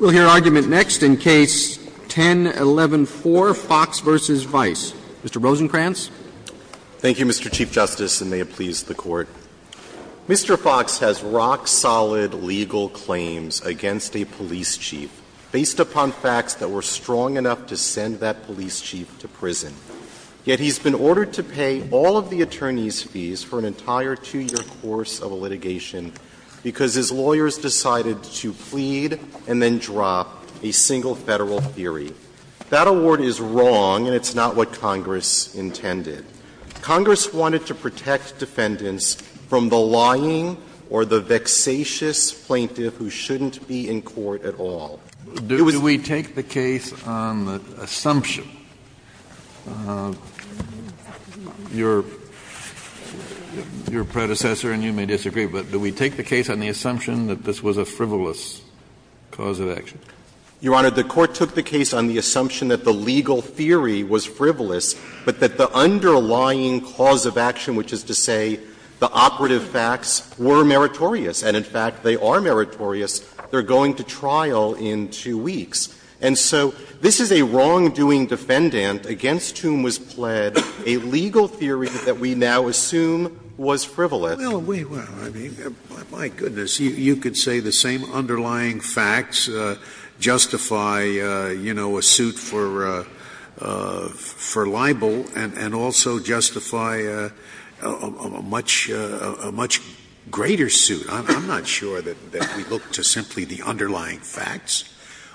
We'll hear argument next in Case 10-11-4, Fox v. Vice. Mr. Rosenkranz. Thank you, Mr. Chief Justice, and may it please the Court. Mr. Fox has rock-solid legal claims against a police chief based upon facts that were strong enough to send that police chief to prison. Yet he's been ordered to pay all of the attorney's fees for an entire two-year course of a litigation because his lawyers decided to plead and then drop a single Federal theory. That award is wrong, and it's not what Congress intended. Congress wanted to protect defendants from the lying or the vexatious plaintiff who shouldn't be in court at all. Do we take the case on the assumption of your predecessor, and you may disagree, but do we take the case on the assumption that this was a frivolous cause of action? Your Honor, the Court took the case on the assumption that the legal theory was frivolous, but that the underlying cause of action, which is to say the operative facts, were meritorious. And in fact, they are meritorious. They are going to trial in two weeks. And so this is a wrongdoing defendant against whom was pled a legal theory that we now assume was frivolous. Scalia, my goodness, you could say the same underlying facts justify, you know, a suit for libel and also justify a much greater suit. I'm not sure that we look to simply the underlying facts.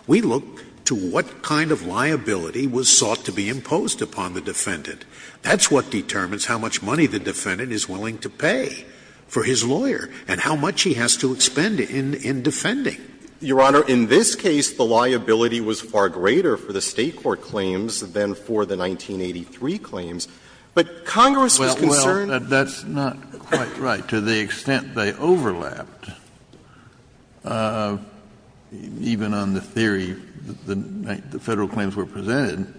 We look to what kind of liability was sought to be imposed upon the defendant. That's what determines how much money the defendant is willing to pay for his lawyer and how much he has to expend in defending. Your Honor, in this case, the liability was far greater for the State court claims than for the 1983 claims. But Congress was concerned. Kennedy, that's not quite right. To the extent they overlapped, even on the theory that the Federal claims were presented,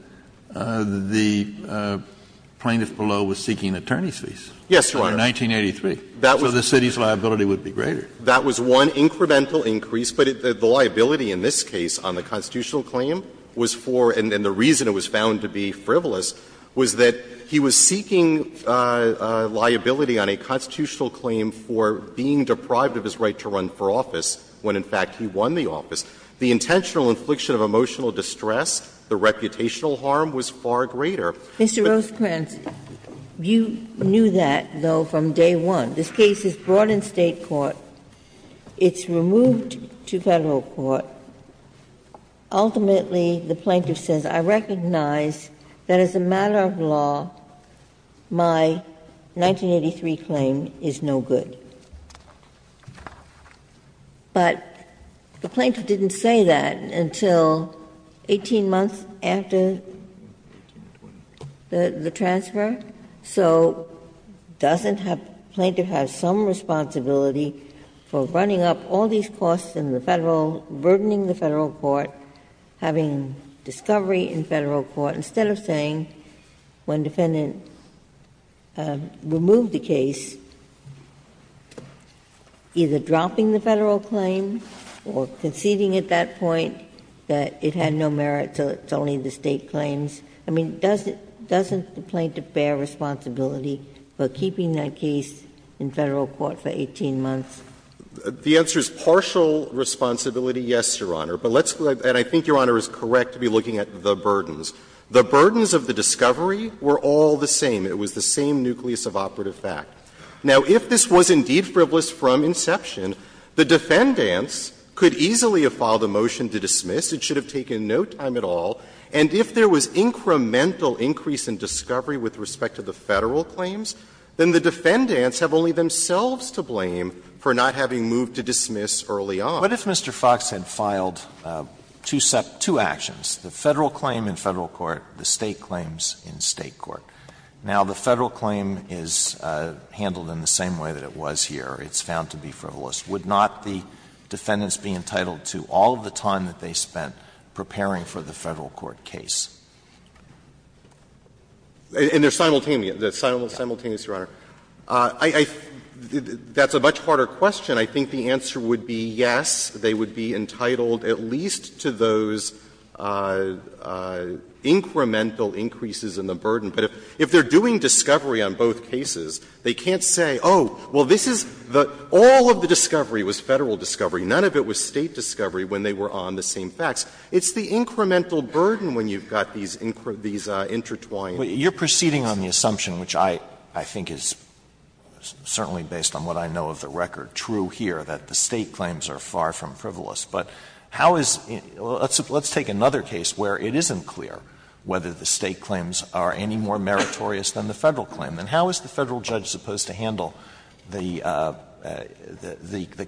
the plaintiff below was seeking attorney's fees. Yes, Your Honor. In 1983. So the city's liability would be greater. That was one incremental increase. But the liability in this case on the constitutional claim was for, and the reason it was found to be frivolous, was that he was seeking liability on a constitutional claim for being deprived of his right to run for office when, in fact, he won the office. The intentional infliction of emotional distress, the reputational harm was far greater. Mr. Rosenkranz, you knew that, though, from day one. This case is brought in State court. It's removed to Federal court. Ultimately, the plaintiff says, I recognize that as a matter of law, my 1983 claim is no good. But the plaintiff didn't say that until 18 months after the transfer. So doesn't the plaintiff have some responsibility for running up all these costs in the Federal, burdening the Federal court, having discovery in Federal court, instead of saying, when defendant removed the case, either dropping the Federal claim or conceding at that point that it had no merit, so it's only the State claims? I mean, doesn't the plaintiff bear responsibility for keeping that case in Federal court for 18 months? Rosenkranz, The answer is partial responsibility, yes, Your Honor. But let's go to the other. And I think Your Honor is correct to be looking at the burdens. The burdens of the discovery were all the same. It was the same nucleus of operative fact. Now, if this was indeed frivolous from inception, the defendants could easily have filed a motion to dismiss. It should have taken no time at all. And if there was incremental increase in discovery with respect to the Federal claims, then the defendants have only themselves to blame for not having moved to dismiss early on. Alito, What if Mr. Fox had filed two actions, the Federal claim in Federal court, the State claims in State court? Now, the Federal claim is handled in the same way that it was here. It's found to be frivolous. Would not the defendants be entitled to all of the time that they spent preparing for the Federal court case? And they're simultaneous. They're simultaneous, Your Honor. I think that's a much harder question. I think the answer would be yes, they would be entitled at least to those incremental increases in the burden. But if they're doing discovery on both cases, they can't say, oh, well, this is the all of the discovery was Federal discovery, none of it was State discovery when they were on the same facts. It's the incremental burden when you've got these intertwined. Alito, you're proceeding on the assumption, which I think is certainly based on what I know of the record, true here, that the State claims are far from frivolous. But how is — let's take another case where it isn't clear whether the State claims are any more meritorious than the Federal claim. Then how is the Federal judge supposed to handle the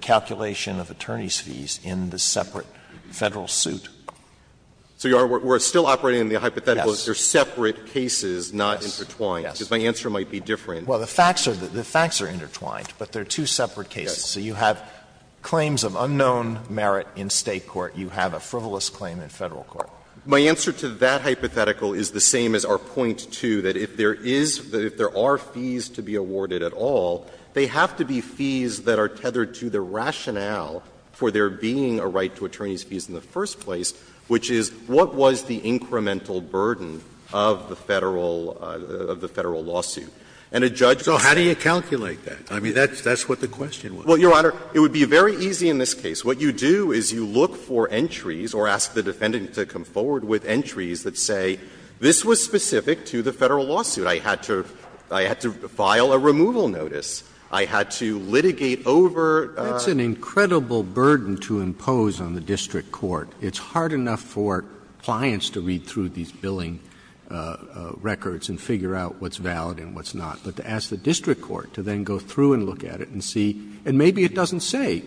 calculation of attorney's fees in the separate Federal suit? So, Your Honor, we're still operating on the hypothetical that they're separate cases, not intertwined. Yes. Because my answer might be different. Well, the facts are intertwined, but they're two separate cases. So you have claims of unknown merit in State court. You have a frivolous claim in Federal court. My answer to that hypothetical is the same as our point 2, that if there is — that if there are fees to be awarded at all, they have to be fees that are tethered to the rationale for there being a right to attorney's fees in the first place, which is what was the incremental burden of the Federal — of the Federal lawsuit. And a judge can't do that. So how do you calculate that? I mean, that's what the question was. Well, Your Honor, it would be very easy in this case. What you do is you look for entries or ask the defendant to come forward with entries that say this was specific to the Federal lawsuit. I had to file a removal notice. I had to litigate over the Federal lawsuit. Roberts. It's an incredible burden to impose on the district court. It's hard enough for clients to read through these billing records and figure out what's valid and what's not. But to ask the district court to then go through and look at it and see — and maybe it doesn't say,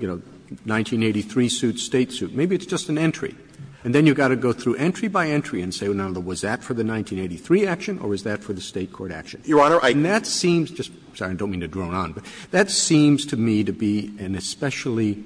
you know, 1983 suit, State suit. Maybe it's just an entry. And then you've got to go through entry by entry and say, well, now, was that for the 1983 action or was that for the State court action? Your Honor, I think that seems just — sorry. I don't mean to drone on, but that seems to me to be an especially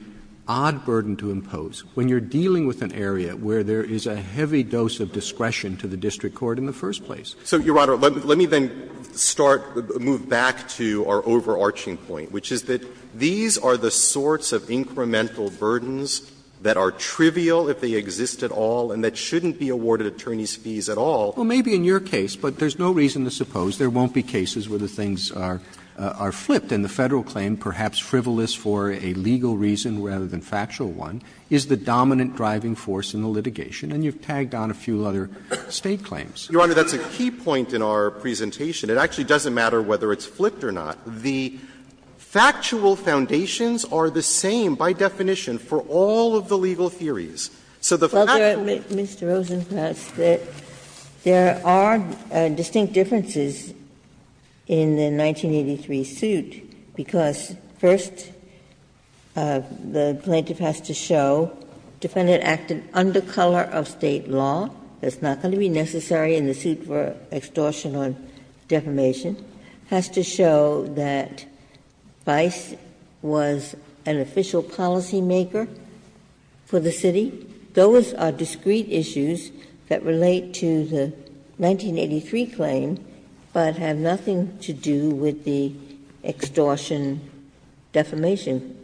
odd burden to impose when you're dealing with an area where there is a heavy dose of discretion to the district court in the first place. So, Your Honor, let me then start — move back to our overarching point, which is that these are the sorts of incremental burdens that are trivial if they exist at all and that shouldn't be awarded attorneys' fees at all. Well, maybe in your case, but there's no reason to suppose there won't be cases where the things are flipped. And the Federal claim, perhaps frivolous for a legal reason rather than factual one, is the dominant driving force in the litigation. And you've tagged on a few other State claims. Your Honor, that's a key point in our presentation. It actually doesn't matter whether it's flipped or not. The factual foundations are the same by definition for all of the legal theories. So the factual— Ginsburg. Mr. Rosenkranz, there are distinct differences in the 1983 suit because, first, the plaintiff has to show defendant acted under color of State law. That's not going to be necessary in the suit for extortion or defamation. It has to show that Vice was an official policymaker for the City. Those are discrete issues that relate to the 1983 claim, but have nothing to do with the extortion-defamation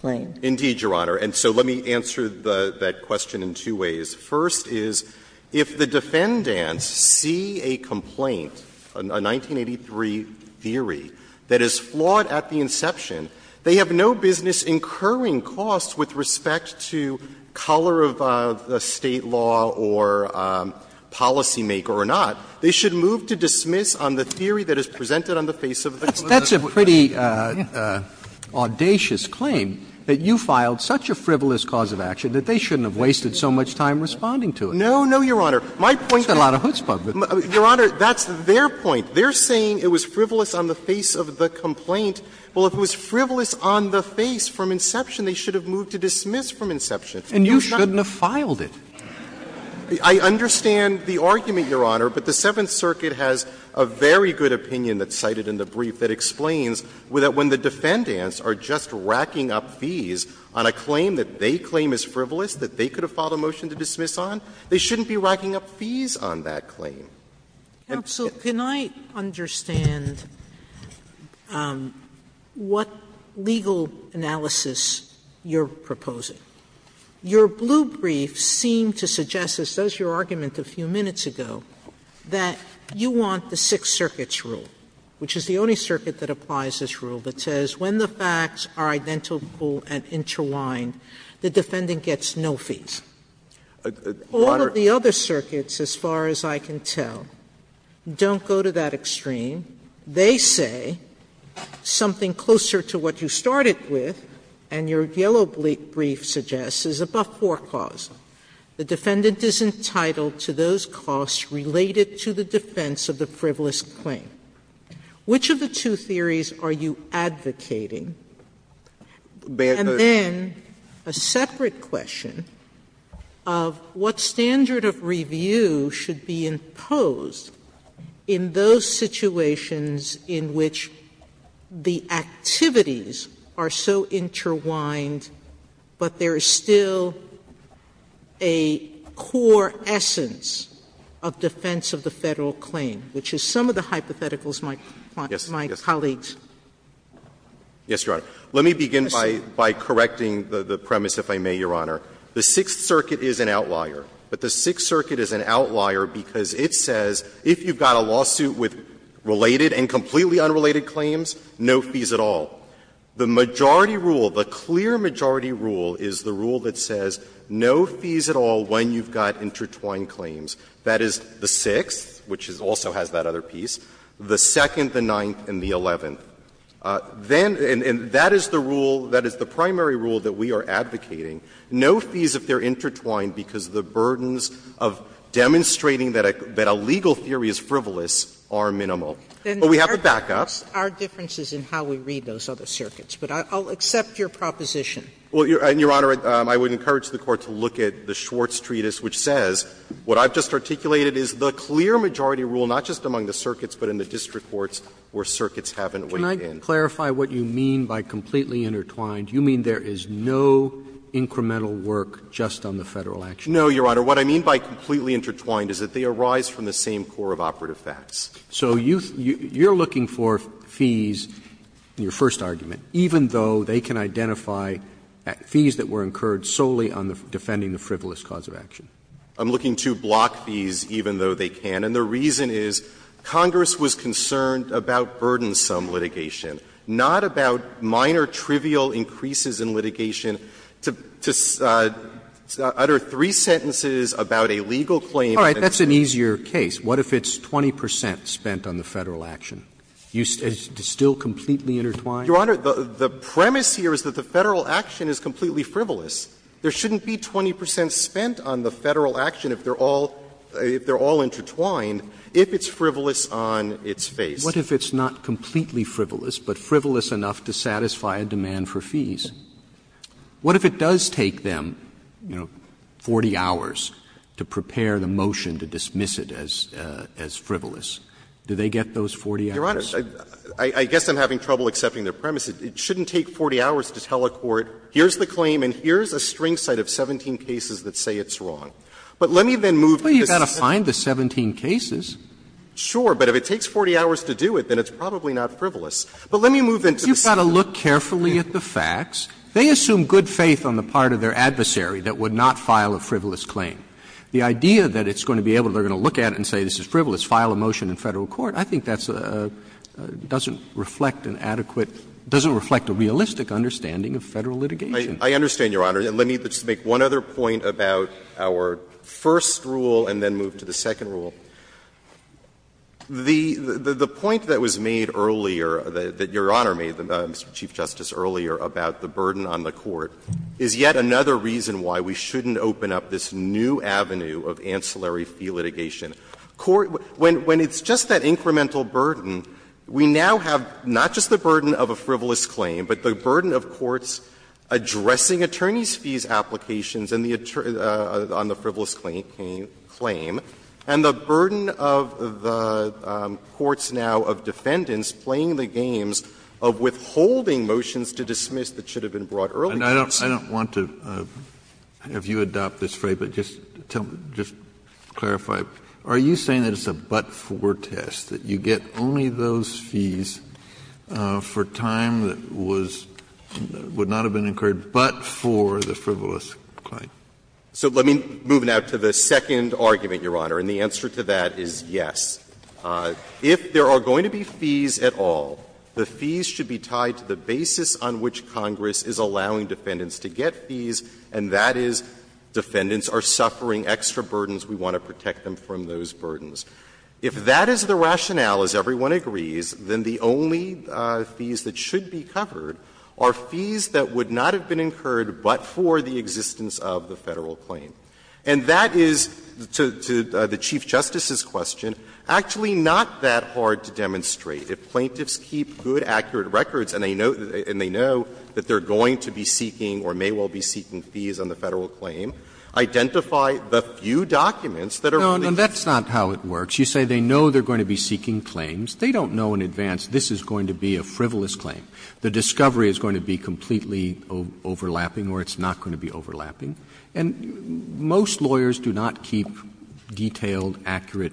claim. Indeed, Your Honor. And so let me answer that question in two ways. First is, if the defendants see a complaint, a 1983 theory, that is flawed at the level of color of State law or policymaker or not, they should move to dismiss on the theory that is presented on the face of the complaint. That's a pretty audacious claim, that you filed such a frivolous cause of action that they shouldn't have wasted so much time responding to it. No, no, Your Honor. My point is— That's a lot of chutzpah. Your Honor, that's their point. They're saying it was frivolous on the face of the complaint. Well, if it was frivolous on the face from inception, they should have moved to dismiss from inception. And you shouldn't have filed it. I understand the argument, Your Honor, but the Seventh Circuit has a very good opinion that's cited in the brief that explains that when the defendants are just racking up fees on a claim that they claim is frivolous, that they could have filed a motion to dismiss on, they shouldn't be racking up fees on that claim. Sotomayor, can I understand what legal analysis you're proposing? Your blue brief seemed to suggest, as does your argument a few minutes ago, that you want the Sixth Circuit's rule, which is the only circuit that applies this rule, that says when the facts are identical and interwined, the defendant gets no fees. All of the other circuits, as far as I can tell, don't go to that extreme. They say something closer to what you started with, and your yellow brief suggests, is above foreclause. The defendant is entitled to those costs related to the defense of the frivolous claim. Which of the two theories are you advocating? And then a separate question of what standard of review should be imposed in those situations in which the activities are so interwined, but there is still a core essence of defense of the Federal claim, which is some of the hypotheticals my colleagues. Yes, Your Honor. Let me begin by correcting the premise, if I may, Your Honor. The Sixth Circuit is an outlier. But the Sixth Circuit is an outlier because it says if you've got a lawsuit with related and completely unrelated claims, no fees at all. The majority rule, the clear majority rule, is the rule that says no fees at all when you've got intertwined claims. That is the Sixth, which also has that other piece, the Second, the Ninth, and the Eleventh. Then, and that is the rule, that is the primary rule that we are advocating. No fees if they are intertwined because the burdens of demonstrating that a legal theory is frivolous are minimal. But we have the backup. Our difference is in how we read those other circuits, but I'll accept your proposition. Well, Your Honor, I would encourage the Court to look at the Schwartz Treatise, which says what I've just articulated is the clear majority rule, not just among the circuits, but in the district courts where circuits haven't weighed in. Can I clarify what you mean by completely intertwined? You mean there is no incremental work just on the Federal action? No, Your Honor. What I mean by completely intertwined is that they arise from the same core of operative facts. So you're looking for fees in your first argument, even though they can identify fees that were incurred solely on defending the frivolous cause of action? I'm looking to block fees even though they can. And the reason is Congress was concerned about burdensome litigation, not about minor trivial increases in litigation. To utter three sentences about a legal claim and then say that's a trivial case. All right. That's an easier case. What if it's 20 percent spent on the Federal action? Is it still completely intertwined? Your Honor, the premise here is that the Federal action is completely frivolous. There shouldn't be 20 percent spent on the Federal action if they're all intertwined. If it's frivolous on its face. What if it's not completely frivolous, but frivolous enough to satisfy a demand for fees? What if it does take them, you know, 40 hours to prepare the motion to dismiss it as frivolous? Do they get those 40 hours? Your Honor, I guess I'm having trouble accepting their premise. It shouldn't take 40 hours to tell a court, here's the claim and here's a string set of 17 cases that say it's wrong. But let me then move to the second. If you look at the facts, they assume good faith on the part of their adversary that would not file a frivolous claim. The idea that it's going to be able to, they're going to look at it and say this is frivolous, file a motion in Federal court, I think that doesn't reflect an adequate – doesn't reflect a realistic understanding of Federal litigation. I understand, Your Honor. And let me just make one other point about our first rule and then move to the second rule. The point that was made earlier, that Your Honor made, Mr. Chief Justice, earlier about the burden on the court is yet another reason why we shouldn't open up this new avenue of ancillary fee litigation. When it's just that incremental burden, we now have not just the burden of a frivolous claim, but the burden of courts addressing attorneys' fees applications on the frivolous claim, and the burden of the courts now of defendants playing the games of withholding motions to dismiss that should have been brought earlier. Kennedy, I don't want to have you adopt this phrase, but just tell me, just clarify. Are you saying that it's a but-for test, that you get only those fees for time that was – would not have been incurred but for the frivolous claim? So let me move now to the second argument, Your Honor, and the answer to that is yes. If there are going to be fees at all, the fees should be tied to the basis on which Congress is allowing defendants to get fees, and that is defendants are suffering extra burdens, we want to protect them from those burdens. If that is the rationale, as everyone agrees, then the only fees that should be covered are fees that would not have been incurred but for the existence of the Federal claim. And that is, to the Chief Justice's question, actually not that hard to demonstrate. If plaintiffs keep good, accurate records and they know that they are going to be seeking or may well be seeking fees on the Federal claim, identify the few documents that are really just. Roberts, and that's not how it works. You say they know they are going to be seeking claims. They don't know in advance this is going to be a frivolous claim. The discovery is going to be completely overlapping or it's not going to be overlapping. And most lawyers do not keep detailed, accurate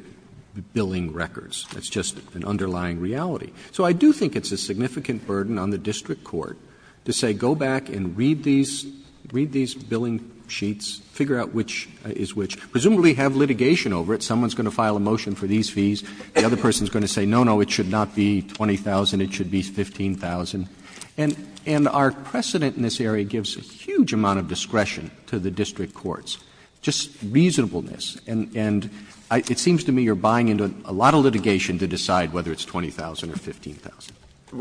billing records. That's just an underlying reality. So I do think it's a significant burden on the district court to say go back and read these, read these billing sheets, figure out which is which. Presumably have litigation over it. Someone is going to file a motion for these fees. The other person is going to say, no, no, it should not be 20,000, it should be 15,000. And our precedent in this area gives a huge amount of discretion to the district courts. Just reasonableness. And it seems to me you are buying into a lot of litigation to decide whether it's 20,000 or 15,000.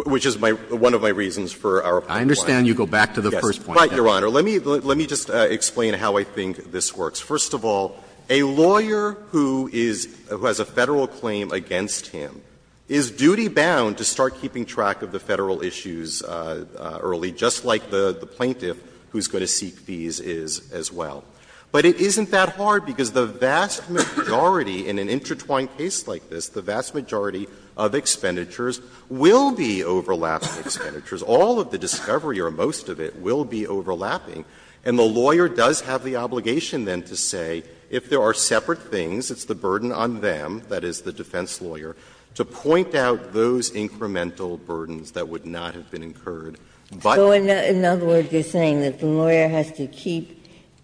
Which is my one of my reasons for our point. I understand you go back to the first point. Yes. But, Your Honor, let me just explain how I think this works. First of all, a lawyer who has a Federal claim against him is duty-bound to start keeping track of the Federal issues early, just like the plaintiff who is going to seek fees is as well. But it isn't that hard, because the vast majority in an intertwined case like this, the vast majority of expenditures will be overlapping expenditures. All of the discovery or most of it will be overlapping. And the lawyer does have the obligation then to say, if there are separate things, it's the burden on them, that is, the defense lawyer, to point out those incremental burdens that would not have been incurred. But the lawyer has to keep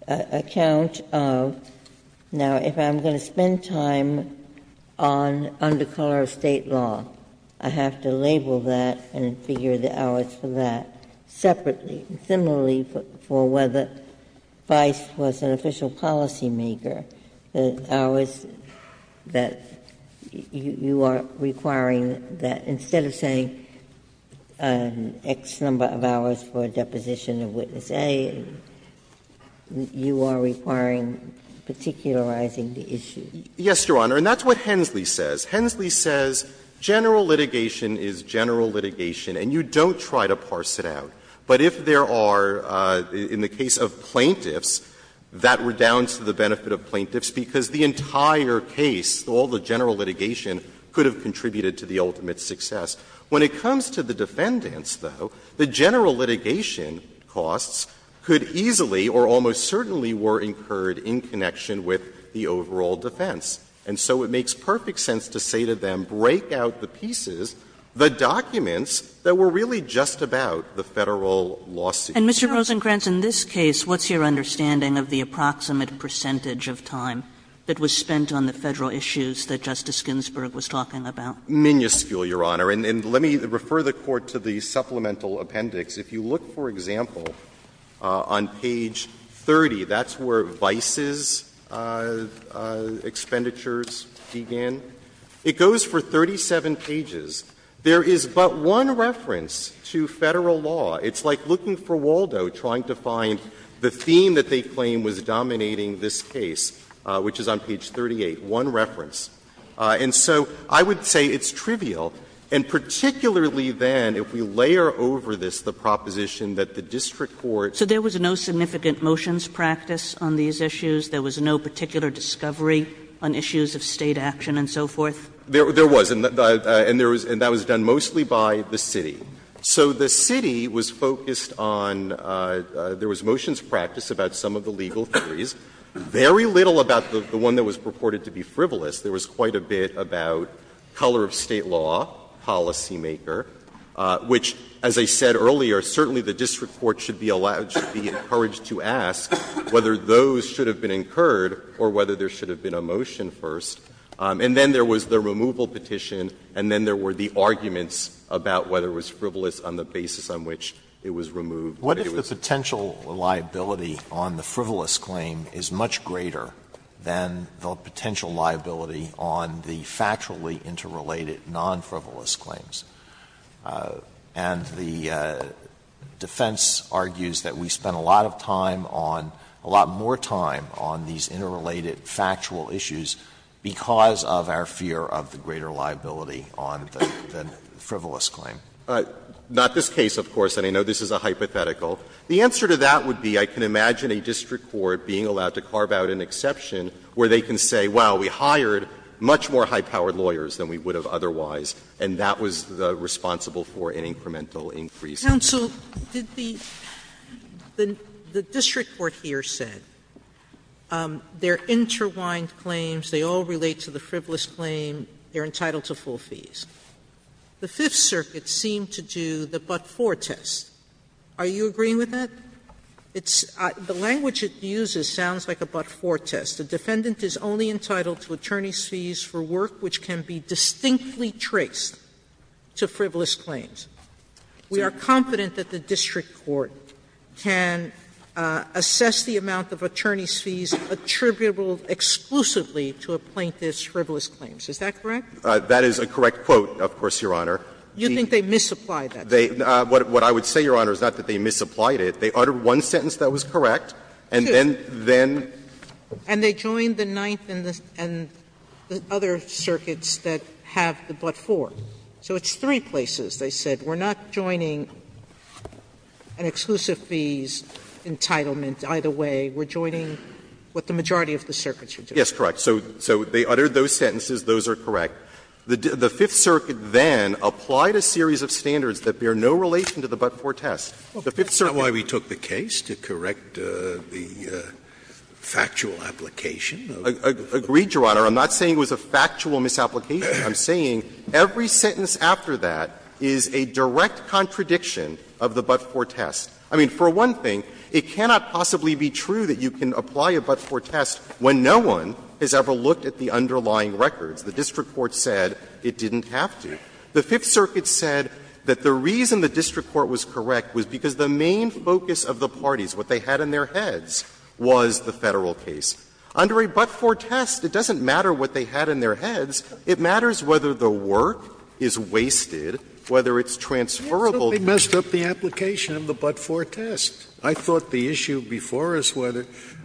account of, now, if I'm going to spend time on under color of State law, I have to label that and figure the hours for that separately. And similarly, for whether Vice was an official policymaker, the hours that you are requiring that, instead of saying X number of hours for a deposition of witness A, you are requiring particularizing the issue. Yes, Your Honor. And that's what Hensley says. Hensley says general litigation is general litigation, and you don't try to parse it out. But if there are, in the case of plaintiffs, that redounds to the benefit of plaintiffs, because the entire case, all the general litigation, could have contributed to the ultimate success. When it comes to the defendants, though, the general litigation costs could easily or almost certainly were incurred in connection with the overall defense. And so it makes perfect sense to say to them, break out the pieces, the documents that were really just about the Federal lawsuit. And, Mr. Rosenkranz, in this case, what's your understanding of the approximate percentage of time that was spent on the Federal issues that Justice Ginsburg was talking about? Minuscule, Your Honor. And let me refer the Court to the supplemental appendix. If you look, for example, on page 30, that's where Vice's expenditures began. It goes for 37 pages. There is but one reference to Federal law. It's like looking for Waldo, trying to find the theme that they claim was dominating this case, which is on page 38, one reference. And so I would say it's trivial, and particularly then, if we layer over this the proposition that the district court's lawyer's office was responsible for all of the And that was done mostly by the city. So the city was focused on — there was motions practiced about some of the legal theories. Very little about the one that was purported to be frivolous. There was quite a bit about color of State law, policymaker, which, as I said earlier, certainly the district court should be allowed — should be encouraged to ask whether those should have been incurred or whether there should have been a motion first. And then there was the removal petition, and then there were the arguments about whether it was frivolous on the basis on which it was removed. Alito, what if the potential liability on the frivolous claim is much greater than the potential liability on the factually interrelated non-frivolous claims? And the defense argues that we spent a lot of time on — a lot more time on these interrelated factual issues because of our fear of the greater liability on the frivolous claim. Not this case, of course, and I know this is a hypothetical. The answer to that would be I can imagine a district court being allowed to carve out an exception where they can say, wow, we hired much more high-powered lawyers than we would have otherwise, and that was responsible for an incremental increase. Sotomayor, did the — the district court here said they're interwined claims, they all relate to the frivolous claim, they're entitled to full fees. The Fifth Circuit seemed to do the but-for test. Are you agreeing with that? It's — the language it uses sounds like a but-for test. The defendant is only entitled to attorney's fees for work which can be distinctly traced to frivolous claims. We are confident that the district court can assess the amount of attorney's fees attributable exclusively to a plaintiff's frivolous claims. Is that correct? That is a correct quote, of course, Your Honor. You think they misapplied that? They — what I would say, Your Honor, is not that they misapplied it. They uttered one sentence that was correct, and then — then. And they joined the Ninth and the other circuits that have the but-for. So it's three places. They said, we're not joining an exclusive fees entitlement either way. We're joining what the majority of the circuits are doing. Yes, correct. So they uttered those sentences. Those are correct. The Fifth Circuit then applied a series of standards that bear no relation to the but-for test. The Fifth Circuit didn't. That's not why we took the case, to correct the factual application. Agreed, Your Honor. I'm not saying it was a factual misapplication. I'm saying every sentence after that is a direct contradiction of the but-for test. I mean, for one thing, it cannot possibly be true that you can apply a but-for test when no one has ever looked at the underlying records. The district court said it didn't have to. The Fifth Circuit said that the reason the district court was correct was because the main focus of the parties, what they had in their heads, was the Federal case. Under a but-for test, it doesn't matter what they had in their heads. It matters whether the work is wasted, whether it's transferable to the district. Scalia They messed up the application of the but-for test. I thought the issue before us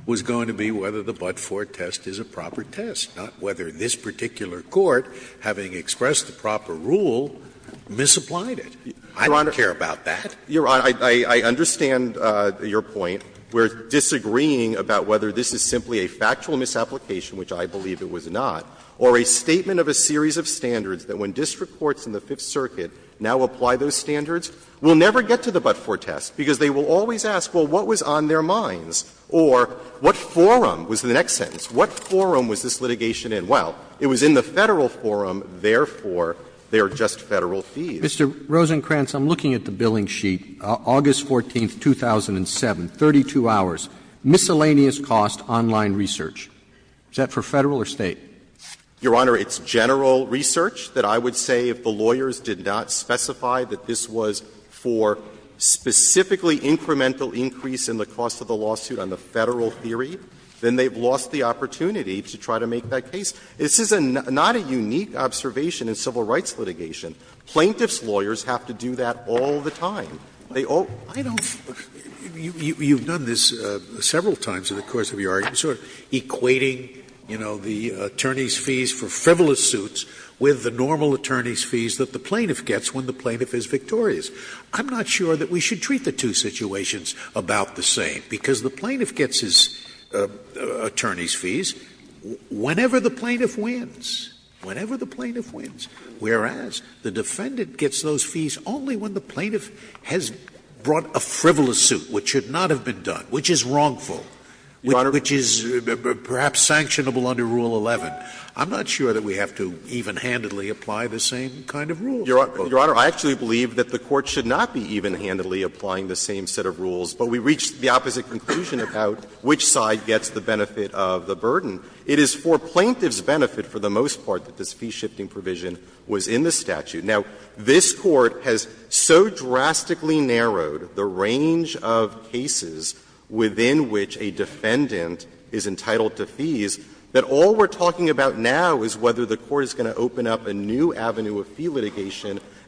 was going to be whether the but-for test is a proper test, not whether this particular court, having expressed the proper rule, misapplied it. I don't care about that. Your Honor, I understand your point. We're disagreeing about whether this is simply a factual misapplication, which I believe it was not, or a statement of a series of standards that when district courts in the Fifth Circuit now apply those standards, will never get to the but-for test, because they will always ask, well, what was on their minds, or what forum was the next sentence, what forum was this litigation in? Well, it was in the Federal forum, therefore, they are just Federal fees. Roberts Mr. Rosenkranz, I'm looking at the billing sheet, August 14, 2007, 32 hours, miscellaneous cost online research. Is that for Federal or State? Rosenkranz Your Honor, it's general research that I would say if the lawyers did not specify that this was for specifically incremental increase in the cost of the lawsuit on the Federal theory, then they have lost the opportunity to try to make that case. This is not a unique observation in civil rights litigation. Plaintiffs' lawyers have to do that all the time. They all do. Scalia You've done this several times in the course of your argument. You're sort of equating, you know, the attorney's fees for frivolous suits with the normal attorney's fees that the plaintiff gets when the plaintiff is victorious. I'm not sure that we should treat the two situations about the same, because the plaintiff gets his attorney's fees whenever the plaintiff wins, whenever the plaintiff wins, whereas the defendant gets those fees only when the plaintiff has brought a frivolous suit which should not have been done, which is wrongful, which is wrongful. It's perhaps sanctionable under Rule 11. I'm not sure that we have to even-handedly apply the same kind of rules. Rosenkranz Your Honor, I actually believe that the Court should not be even-handedly applying the same set of rules, but we reached the opposite conclusion about which side gets the benefit of the burden. It is for plaintiff's benefit for the most part that this fee-shifting provision was in the statute. And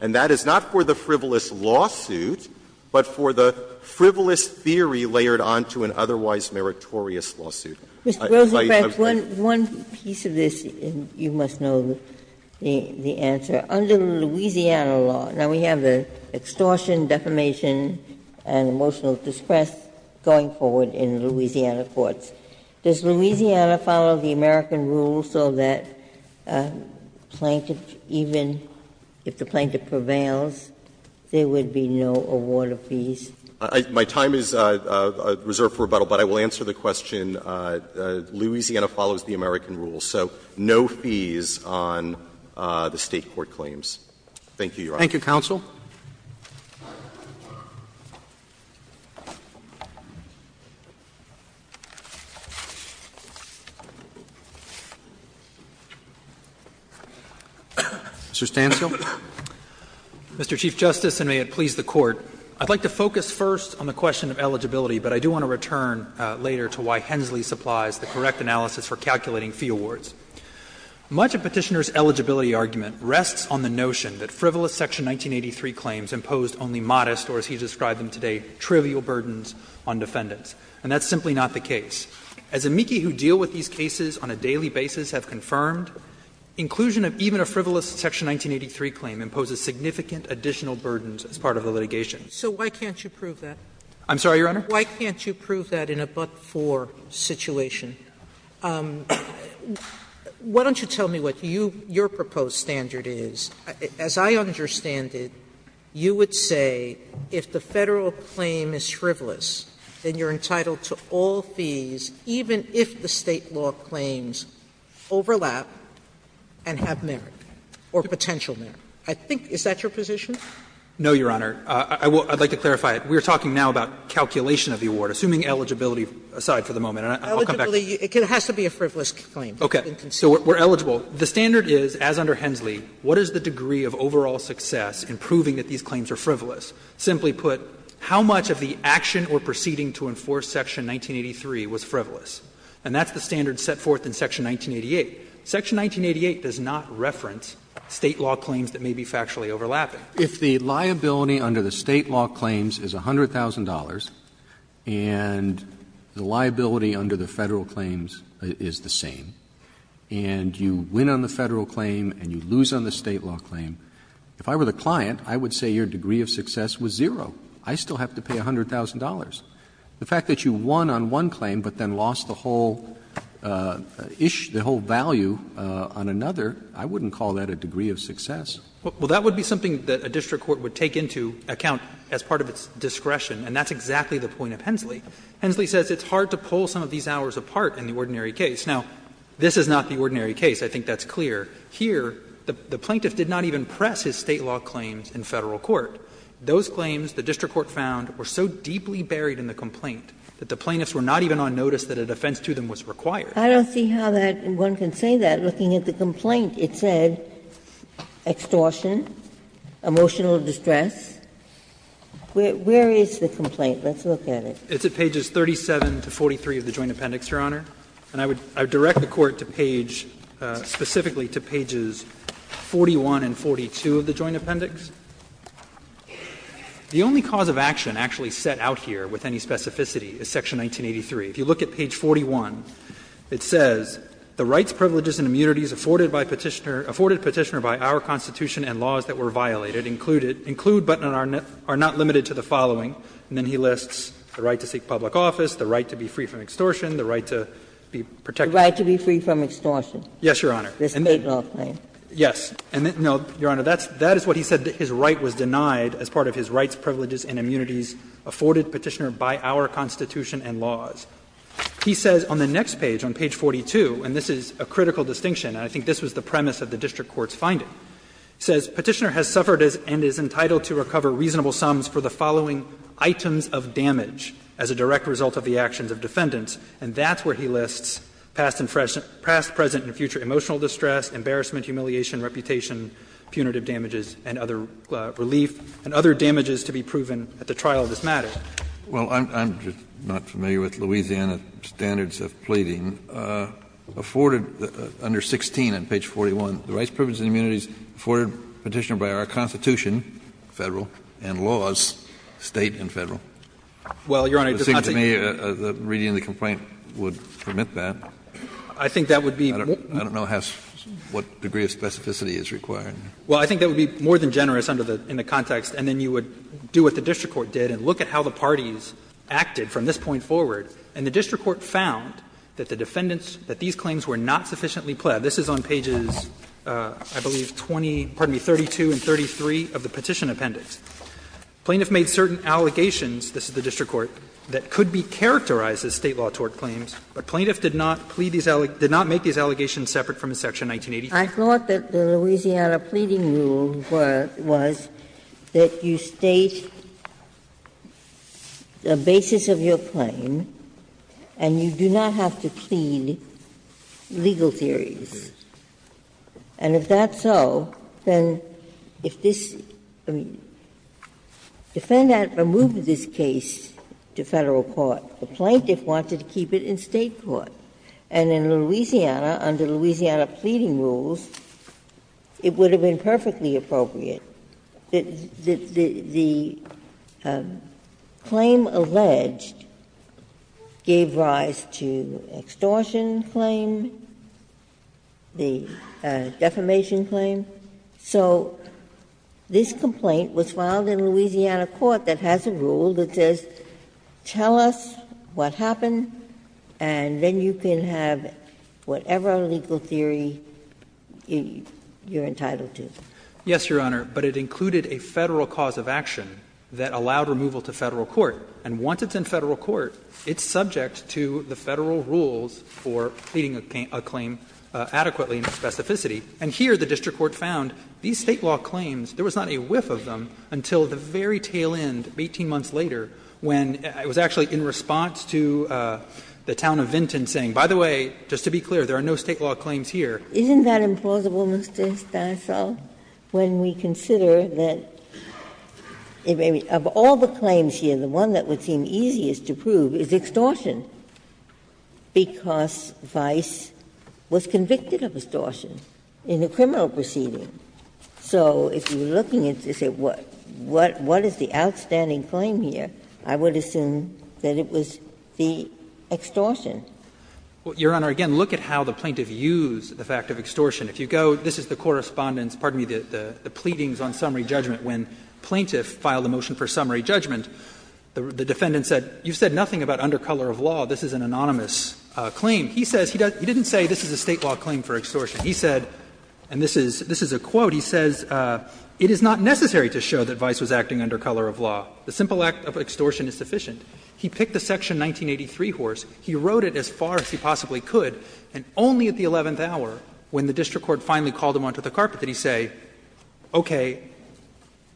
that is not for the frivolous lawsuit, but for the frivolous theory layered on to an otherwise meritorious lawsuit. I think I've made my point. Ginsburg Mr. Rosenkranz, one piece of this, and you must know the answer. Under the Louisiana law, now, we have the extortion, defamation, and emotional distress going forward in Louisiana courts. Does Louisiana follow the American rule so that a plaintiff, even if the plaintiff prevails, there would be no award of fees? Rosenkranz My time is reserved for rebuttal, but I will answer the question. Louisiana follows the American rule, so no fees on the State court claims. Thank you, counsel. Mr. Stancil. Stancil Mr. Chief Justice, and may it please the Court, I'd like to focus first on the question of eligibility, but I do want to return later to why Hensley supplies the correct analysis for calculating fee awards. Much of Petitioner's eligibility argument rests on the notion that frivolous Section 1983 claims imposed only modest or, as he described them today, trivial burdens on defendants, and that's simply not the case. As amici who deal with these cases on a daily basis have confirmed, inclusion of even a frivolous Section 1983 claim imposes significant additional burdens as part of the litigation. Sotomayor So why can't you prove that? Stancil I'm sorry, Your Honor? Sotomayor Why can't you prove that in a but-for situation? Why don't you tell me what you your proposed standard is? As I understand it, you would say if the Federal claim is frivolous, then you're entitled to all fees, even if the State law claims overlap and have merit, or potential merit. I think that's your position? Stancil No, Your Honor. I would like to clarify it. We are talking now about calculation of the award, assuming eligibility aside for the moment, and I'll come back to that. It has to be a frivolous claim. Roberts So we're eligible. The standard is, as under Hensley, what is the degree of overall success in proving that these claims are frivolous? Simply put, how much of the action or proceeding to enforce Section 1983 was frivolous? And that's the standard set forth in Section 1988. Section 1988 does not reference State law claims that may be factually overlapping. Roberts If the liability under the State law claims is $100,000, and the liability under the Federal claims is the same, and you win on the Federal claim and you lose on the State law claim, if I were the client, I would say your degree of success was zero. I still have to pay $100,000. The fact that you won on one claim but then lost the whole issue, the whole value on another, I wouldn't call that a degree of success. Stancil Well, that would be something that a district court would take into account as part of its discretion, and that's exactly the point of Hensley. Hensley says it's hard to pull some of these hours apart in the ordinary case. Now, this is not the ordinary case. I think that's clear. Here, the plaintiff did not even press his State law claims in Federal court. Those claims, the district court found, were so deeply buried in the complaint that the plaintiffs were not even on notice that a defense to them was required. Ginsburg I don't see how that one can say that. Looking at the complaint, it said extortion, emotional distress. Where is the complaint? Let's look at it. It's at pages 37 to 43 of the Joint Appendix, Your Honor. And I would direct the Court to page, specifically to pages 41 and 42 of the Joint Appendix. The only cause of action actually set out here with any specificity is section 1983. If you look at page 41, it says, The rights, privileges, and immunities afforded by Petitioner by our Constitution and laws that were violated include but are not limited to the following. And then he lists the right to seek public office, the right to be free from extortion, the right to be protected. Ginsburg The right to be free from extortion. Yes, Your Honor. Ginsburg The State law claim. Yes. No, Your Honor, that is what he said, that his right was denied as part of his rights, privileges, and immunities afforded Petitioner by our Constitution and laws. He says on the next page, on page 42, and this is a critical distinction, and I think this was the premise of the district court's finding. He says, Petitioner has suffered and is entitled to recover reasonable sums for the following items of damage as a direct result of the actions of defendants. And that's where he lists past, present, and future emotional distress, embarrassment, humiliation, reputation, punitive damages, and other relief, and other damages to be proven at the trial of this matter. Kennedy Well, I'm just not familiar with Louisiana standards of pleading. Afforded under 16 on page 41, the rights, privileges, and immunities afforded Petitioner by our Constitution, Federal, and laws, State and Federal. It seems to me that reading the complaint would permit that. I don't know what degree of specificity is required. Well, I think that would be more than generous in the context, and then you would do what the district court did and look at how the parties acted from this point forward. And the district court found that the defendants, that these claims were not sufficiently pled. This is on pages, I believe, 20, pardon me, 32 and 33 of the Petition Appendix. Plaintiff made certain allegations, this is the district court, that could be characterized as State law tort claims, but plaintiff did not plead these allegations, did not make these allegations separate from section 1983. Ginsburg I thought that the Louisiana pleading rule was that you state the basis of your claim and you do not have to plead legal theories. And if that's so, then if this defendant removed this case to Federal court, the plaintiff wanted to keep it in State court. And in Louisiana, under Louisiana pleading rules, it would have been perfectly appropriate. The claim alleged gave rise to extortion claim, the defamation claim. So this complaint was filed in Louisiana court that has a rule that says tell us what happened and then you can have whatever legal theory you're entitled to. Yes, Your Honor, but it included a Federal cause of action that allowed removal to Federal court. And once it's in Federal court, it's subject to the Federal rules for pleading a claim adequately in specificity. And here the district court found these State law claims, there was not a whiff of them until the very tail end, 18 months later, when it was actually in response to the town of Vinton saying, by the way, just to be clear, there are no State law claims here. Ginsburg-Miller Isn't that implausible, Mr. Stanislau, when we consider that, of all the claims here, the one that would seem easiest to prove is extortion, because Vice was convicted of extortion in a criminal proceeding. So if you're looking at this, what is the outstanding claim here, I would assume that it was the extortion. Well, Your Honor, again, look at how the plaintiff used the fact of extortion. If you go, this is the correspondence, pardon me, the pleadings on summary judgment when plaintiff filed a motion for summary judgment. The defendant said, you've said nothing about under color of law, this is an anonymous claim. He says, he didn't say this is a State law claim for extortion. He said, and this is a quote, he says, it is not necessary to show that Vice was acting under color of law. The simple act of extortion is sufficient. He picked the section 1983 horse. He rode it as far as he possibly could, and only at the eleventh hour, when the district court finally called him onto the carpet, did he say, okay,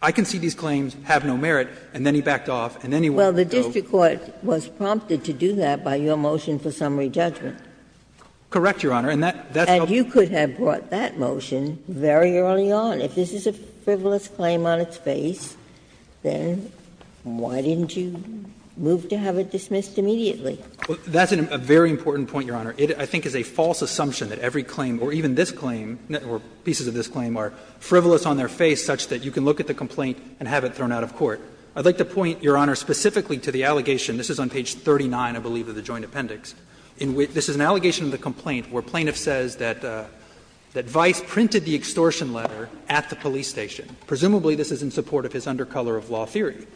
I can see these claims have no merit, and then he backed off, and then he went and drove. Well, the district court was prompted to do that by your motion for summary judgment. Correct, Your Honor, and that's how. And you could have brought that motion very early on. If this is a frivolous claim on its face, then why didn't you move to have it dismissed immediately? That's a very important point, Your Honor. It, I think, is a false assumption that every claim, or even this claim, or pieces of this claim, are frivolous on their face such that you can look at the complaint and have it thrown out of court. I'd like to point, Your Honor, specifically to the allegation, this is on page 39, I believe, of the joint appendix, in which this is an allegation of the complaint where plaintiff says that Vice printed the extortion letter at the police station. Presumably, this is in support of his under color of law theory.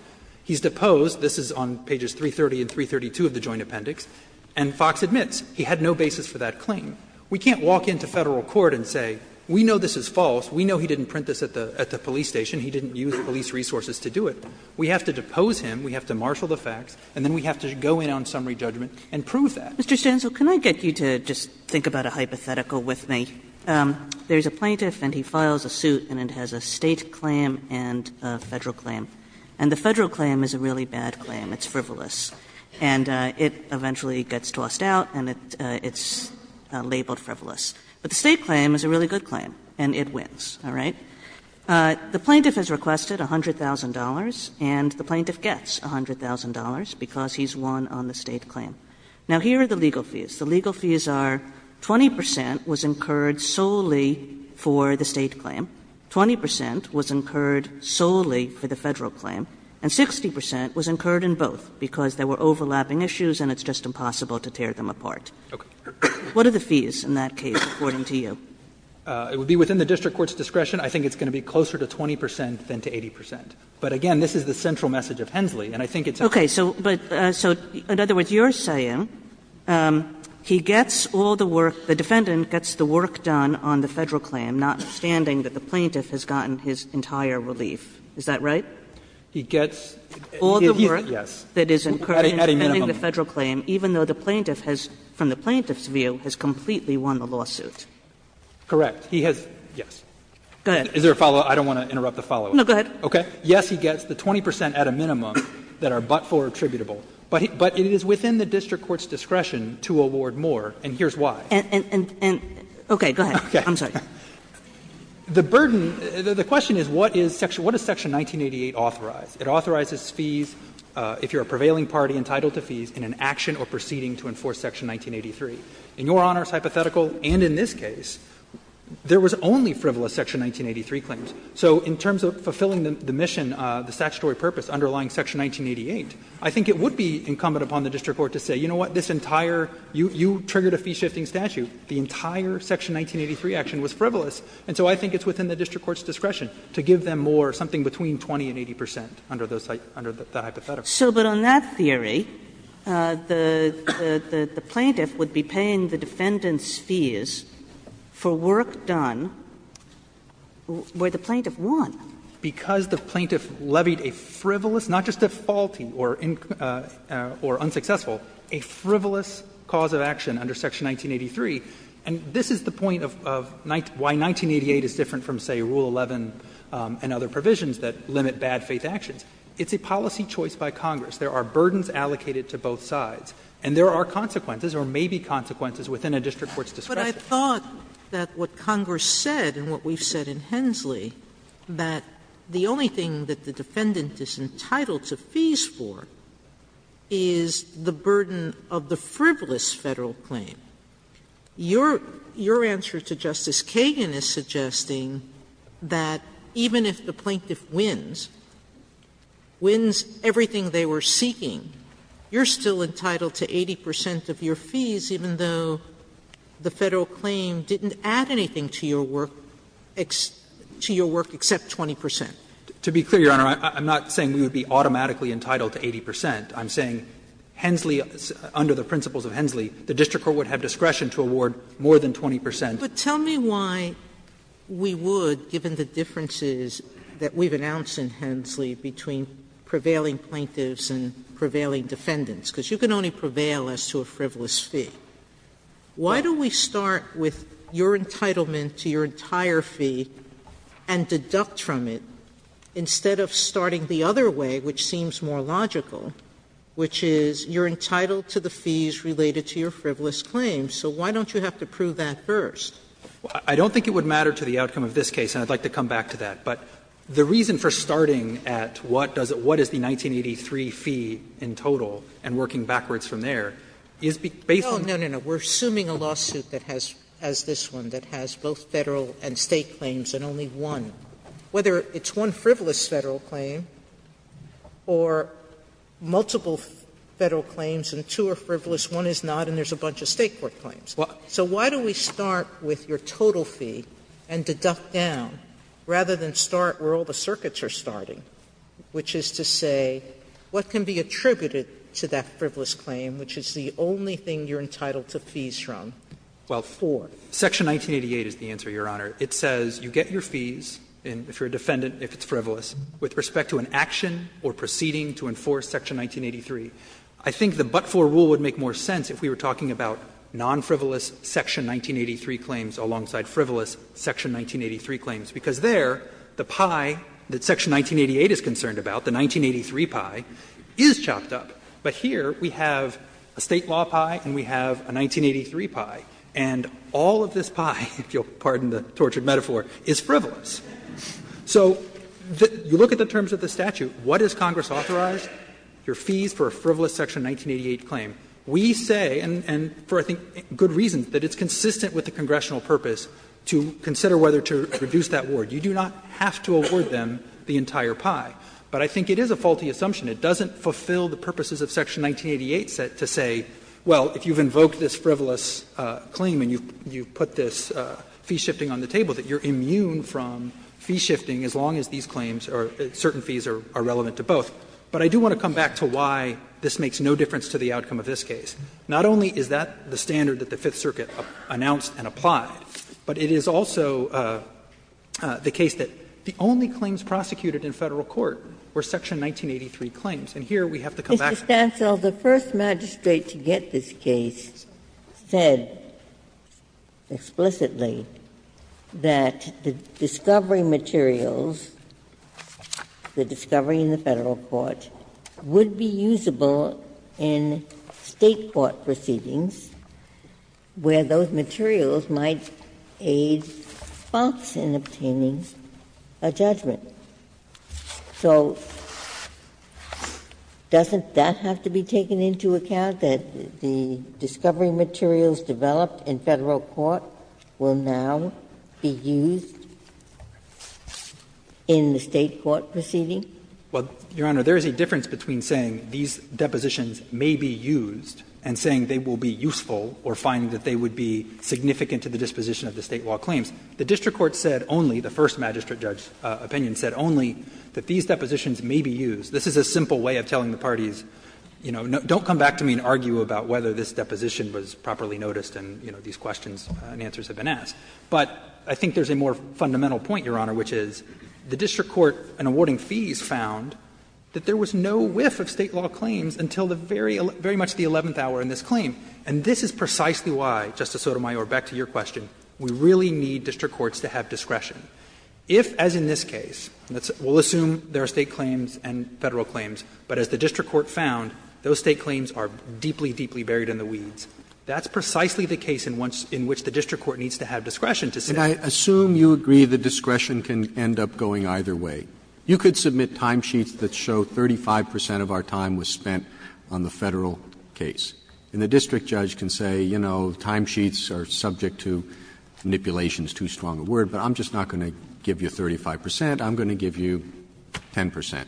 He's deposed, this is on pages 330 and 332 of the joint appendix, and Fox admits he had no basis for that claim. We can't walk into Federal court and say, we know this is false, we know he didn't print this at the police station, he didn't use the police resources to do it. We have to depose him, we have to marshal the facts, and then we have to go in on summary judgment and prove that. Kagan, Mr. Stancil, can I get you to just think about a hypothetical with me? There's a plaintiff and he files a suit and it has a State claim and a Federal claim. And the Federal claim is a really bad claim, it's frivolous, and it eventually gets tossed out and it's labeled frivolous. But the State claim is a really good claim and it wins, all right? The plaintiff has requested $100,000 and the plaintiff gets $100,000 because he's won on the State claim. Now, here are the legal fees. The legal fees are 20 percent was incurred solely for the State claim, 20 percent was incurred solely for the Federal claim, and 60 percent was incurred in both because there were overlapping issues and it's just impossible to tear them apart. What are the fees in that case, according to you? Stancil, it would be within the district court's discretion. I think it's going to be closer to 20 percent than to 80 percent. But again, this is the central message of Hensley, and I think it's a good point. Kagan, okay, but so in other words, you're saying he gets all the work, the defendant gets the work done on the Federal claim, not understanding that the plaintiff has gotten his entire relief, is that right? Stancil, all the work that is incurred in defending the Federal claim, even though the plaintiff has, from the plaintiff's view, has completely won the lawsuit. Stancil, correct. He has, yes. Is there a follow-up? I don't want to interrupt the follow-up. Kagan, no, go ahead. Stancil, okay. Yes, he gets the 20 percent at a minimum that are but-for attributable, but it is within the district court's discretion to award more, and here's why. Kagan, and, okay, go ahead. I'm sorry. The burden, the question is what is Section 1988 authorized? It authorizes fees if you're a prevailing party entitled to fees in an action or proceeding to enforce Section 1983. In Your Honor's hypothetical and in this case, there was only frivolous Section 1983 claims. So in terms of fulfilling the mission, the statutory purpose underlying Section 1988, I think it would be incumbent upon the district court to say, you know what, this entire, you triggered a fee-shifting statute, the entire Section 1983 action was frivolous. And so I think it's within the district court's discretion to give them more, something between 20 and 80 percent under those, under the hypothetical. So but on that theory, the plaintiff would be paying the defendant's fees for work done where the plaintiff won. Because the plaintiff levied a frivolous, not just a faulty or unsuccessful, a frivolous cause of action under Section 1983. And this is the point of why 1988 is different from, say, Rule 11 and other provisions that limit bad faith actions. It's a policy choice by Congress. There are burdens allocated to both sides. And there are consequences or maybe consequences within a district court's discretion. Sotomayor, but I thought that what Congress said and what we've said in Hensley, that the only thing that the defendant is entitled to fees for is the burden of the frivolous Federal claim. Your answer to Justice Kagan is suggesting that even if the plaintiff wins, wins everything they were seeking, you're still entitled to 80 percent of your fees, even though the Federal claim didn't add anything to your work, to your work except 20 percent. To be clear, Your Honor, I'm not saying we would be automatically entitled to 80 percent. I'm saying Hensley, under the principles of Hensley, the district court would have discretion to award more than 20 percent. Sotomayor, but tell me why we would, given the differences that we've announced in Hensley between prevailing plaintiffs and prevailing defendants, because you can only prevail as to a frivolous fee. Why don't we start with your entitlement to your entire fee and deduct from it, instead of starting the other way, which seems more logical, which is you're entitled to the fees related to your frivolous claim. So why don't you have to prove that first? Hensley, I don't think it would matter to the outcome of this case, and I'd like to come back to that. But the reason for starting at what does it what is the 1983 fee in total and working backwards from there is based on the fact that the plaintiff is entitled to 80 percent of the fee. Sotomayor, I don't think it would matter to the outcome of this case, and I'd like But the reason for starting at what does it what is the 1983 fee in total and working backwards from there is based on the fact that the plaintiff is entitled to 80 percent Sotomayor, I don't think it would matter to the outcome of this case, and I'd like to come back to that. With respect to an action or proceeding to enforce Section 1983, I think the but-for rule would make more sense if we were talking about non-frivolous Section 1983 claims alongside frivolous Section 1983 claims, because there the pie that Section 1988 is concerned about, the 1983 pie, is chopped up. But here we have a State law pie and we have a 1983 pie, and all of this pie, if you'll pardon the tortured metaphor, is frivolous. So you look at the terms of the statute. What is Congress authorized? Your fees for a frivolous Section 1988 claim. We say, and for I think good reasons, that it's consistent with the congressional purpose to consider whether to reduce that award. You do not have to award them the entire pie. But I think it is a faulty assumption. It doesn't fulfill the purposes of Section 1988 to say, well, if you've invoked this frivolous claim and you put this fee shifting on the table, that you're immune from fee shifting as long as these claims or certain fees are relevant to both. But I do want to come back to why this makes no difference to the outcome of this case. Not only is that the standard that the Fifth Circuit announced and applied, but it is also the case that the only claims prosecuted in Federal court were Section 1983 claims, and here we have to come back to that. Ginsburg-McGillivray So the First Magistrate to get this case said explicitly that the discovery materials, the discovery in the Federal court, would be usable in State court proceedings where those materials might aid faults in obtaining a judgment. So doesn't that have to be taken into account, that the discovery materials developed in Federal court will now be used in the State court proceeding? Well, Your Honor, there is a difference between saying these depositions may be used and saying they will be useful or finding that they would be significant to the disposition of the State law claims. The district court said only, the First Magistrate judge's opinion said only, that these depositions may be used. This is a simple way of telling the parties, you know, don't come back to me and argue about whether this deposition was properly noticed and, you know, these questions and answers have been asked. But I think there is a more fundamental point, Your Honor, which is the district court in awarding fees found that there was no whiff of State law claims until the very much the eleventh hour in this claim. And this is precisely why, Justice Sotomayor, back to your question, we really need district courts to have discretion. If, as in this case, we will assume there are State claims and Federal claims, but as the district court found, those State claims are deeply, deeply buried in the weeds, that's precisely the case in which the district court needs to have discretion to say. Roberts, and I assume you agree that discretion can end up going either way. You could submit timesheets that show 35 percent of our time was spent on the Federal case. And the district judge can say, you know, timesheets are subject to manipulations, too strong a word, but I'm just not going to give you 35 percent, I'm going to give you 10 percent.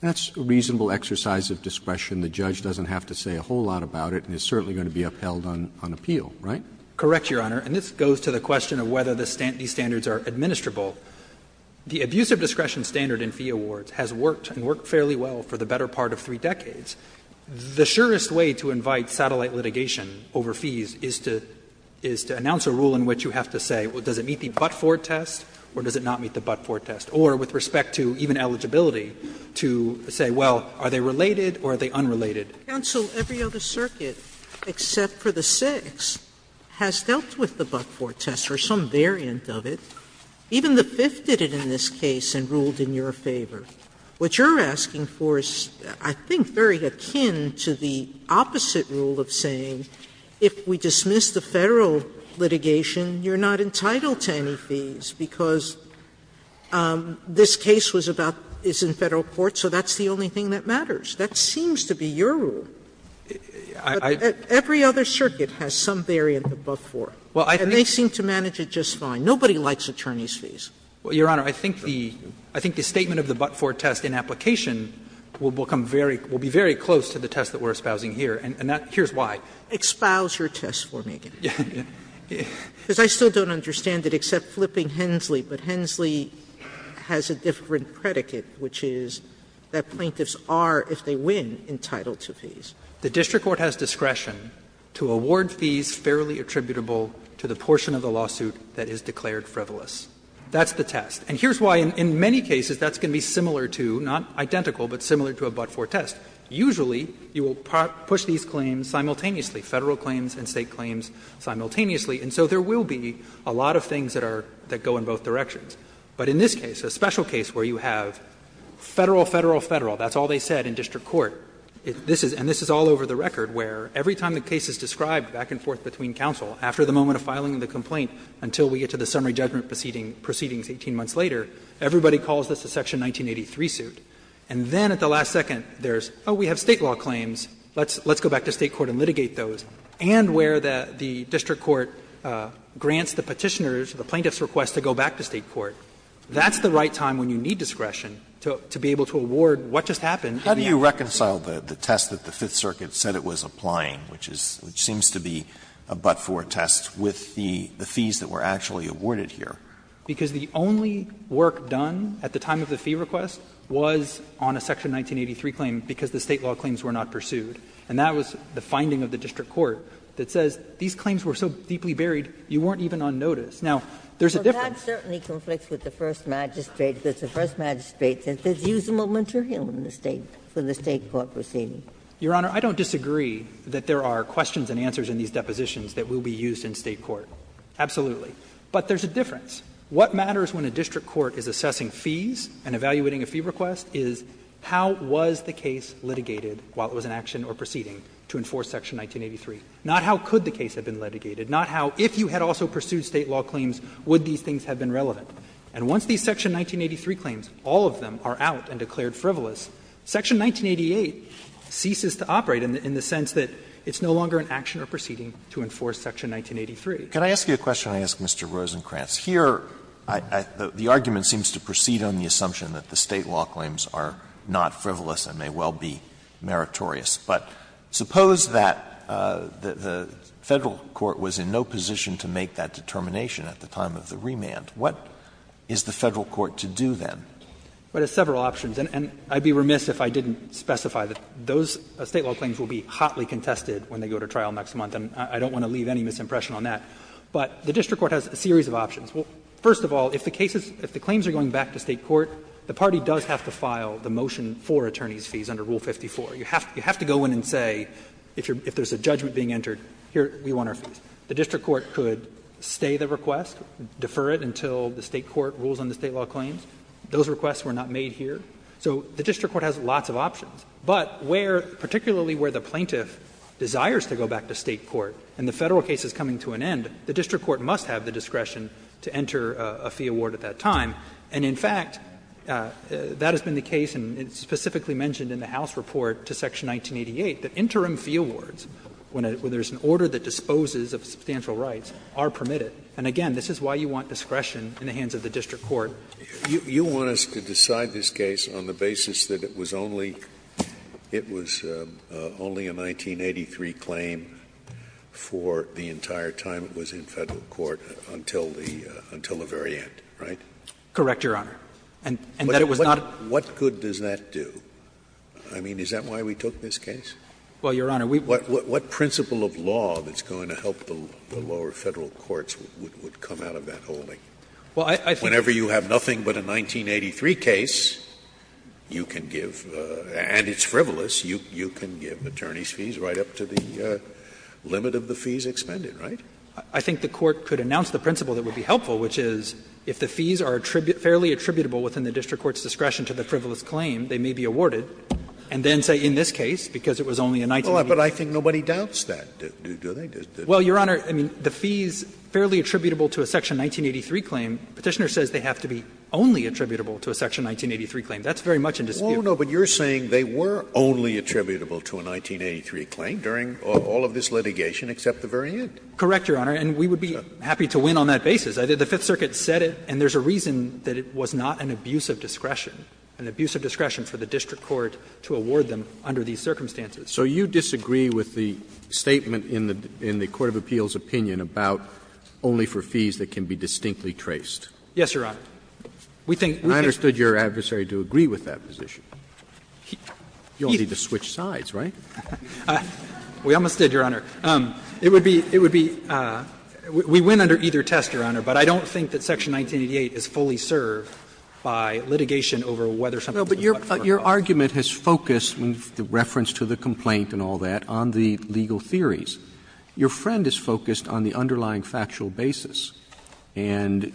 That's a reasonable exercise of discretion. The judge doesn't have to say a whole lot about it and is certainly going to be upheld on appeal, right? Correct, Your Honor, and this goes to the question of whether these standards are administrable. The abuse of discretion standard in fee awards has worked and worked fairly well for the better part of three decades. The surest way to invite satellite litigation over fees is to announce a rule in which you have to say, well, does it meet the but-for test or does it not meet the but-for test? Or with respect to even eligibility, to say, well, are they related or are they unrelated? Sotomayor, every other circuit except for the Sixth has dealt with the but-for test or some variant of it. Even the Fifth did it in this case and ruled in your favor. What you're asking for is, I think, very akin to the opposite rule of saying if we dismiss the Federal litigation, you're not entitled to any fees, because this case was about, is in Federal court, so that's the only thing that matters. That seems to be your rule. Every other circuit has some variant of the but-for, and they seem to manage it just fine. Nobody likes attorney's fees. Well, Your Honor, I think the statement of the but-for test in application will become very – will be very close to the test that we're espousing here, and that – here's why. Expose your test for me. Because I still don't understand it, except flipping Hensley, but Hensley has a different predicate, which is that plaintiffs are, if they win, entitled to fees. The district court has discretion to award fees fairly attributable to the portion of the lawsuit that is declared frivolous. That's the test. And here's why in many cases that's going to be similar to, not identical, but similar to a but-for test. Usually, you will push these claims simultaneously, Federal claims and State claims simultaneously, and so there will be a lot of things that are – that go in both directions. But in this case, a special case where you have Federal, Federal, Federal, that's all they said in district court, and this is all over the record, where every time the case is described back and forth between counsel, after the moment of filing the complaint, until we get to the summary judgment proceedings 18 months later, everybody calls this a Section 1983 suit. And then at the last second, there's, oh, we have State law claims, let's go back to State court and litigate those. And where the district court grants the Petitioners, the plaintiffs' request to go back to State court, that's the right time when you need discretion to be able to award what just happened. Alito, reconciled the test that the Fifth Circuit said it was applying, which is – which is the fees that were actually awarded here. Because the only work done at the time of the fee request was on a Section 1983 claim because the State law claims were not pursued, and that was the finding of the district court that says these claims were so deeply buried, you weren't even on notice. Now, there's a difference. But that certainly conflicts with the First Magistrate, because the First Magistrate says it's usable material in the State, for the State court proceeding. Your Honor, I don't disagree that there are questions and answers in these depositions that will be used in State court, absolutely. But there's a difference. What matters when a district court is assessing fees and evaluating a fee request is how was the case litigated while it was in action or proceeding to enforce Section 1983, not how could the case have been litigated, not how, if you had also pursued State law claims, would these things have been relevant. And once these Section 1983 claims, all of them, are out and declared frivolous, Section 1988 ceases to operate in the sense that it's no longer an action or proceeding to enforce Section 1983. Alitoso, can I ask you a question, I ask Mr. Rosenkranz? Here, the argument seems to proceed on the assumption that the State law claims are not frivolous and may well be meritorious. But suppose that the Federal court was in no position to make that determination at the time of the remand. What is the Federal court to do then? Rosenkranz, but it's several options. And I'd be remiss if I didn't specify that those State law claims will be hotly contested when they go to trial next month, and I don't want to leave any misimpression on that. But the district court has a series of options. First of all, if the cases, if the claims are going back to State court, the party does have to file the motion for attorneys' fees under Rule 54. You have to go in and say, if there's a judgment being entered, here, we want our fees. The district court could stay the request, defer it until the State court rules on the State law claims. Those requests were not made here. So the district court has lots of options. But where, particularly where the plaintiff desires to go back to State court and the Federal case is coming to an end, the district court must have the discretion to enter a fee award at that time. And in fact, that has been the case, and it's specifically mentioned in the House report to section 1988, that interim fee awards, when there's an order that disposes of substantial rights, are permitted. And again, this is why you want discretion in the hands of the district court. Scalia. You want us to decide this case on the basis that it was only, it was only a 1983 claim for the entire time it was in Federal court until the, until the very end, right? Correct, Your Honor. And that it was not a. What good does that do? I mean, is that why we took this case? Well, Your Honor, we. What principle of law that's going to help the lower Federal courts would come out of that holding? Well, I think. If you have nothing but a 1983 case, you can give, and it's frivolous, you can give attorneys' fees right up to the limit of the fees expended, right? I think the Court could announce the principle that would be helpful, which is if the fees are fairly attributable within the district court's discretion to the frivolous claim, they may be awarded, and then say in this case, because it was only a 1983. But I think nobody doubts that, do they? Well, Your Honor, I mean, the fees fairly attributable to a section 1983 claim, Petitioner says they have to be only attributable to a section 1983 claim. That's very much in dispute. Oh, no, but you're saying they were only attributable to a 1983 claim during all of this litigation except the very end. Correct, Your Honor, and we would be happy to win on that basis. The Fifth Circuit said it, and there's a reason that it was not an abuse of discretion, an abuse of discretion for the district court to award them under these circumstances. So you disagree with the statement in the Court of Appeals' opinion about only for either test? Yes, Your Honor. We think, we think that's true. And I understood your adversary to agree with that position. You don't need to switch sides, right? We almost did, Your Honor. It would be, it would be, we win under either test, Your Honor, but I don't think that section 1988 is fully served by litigation over whether something was applied for or not. No, but your argument has focused, in reference to the complaint and all that, on the legal theories. Your friend is focused on the underlying factual basis, and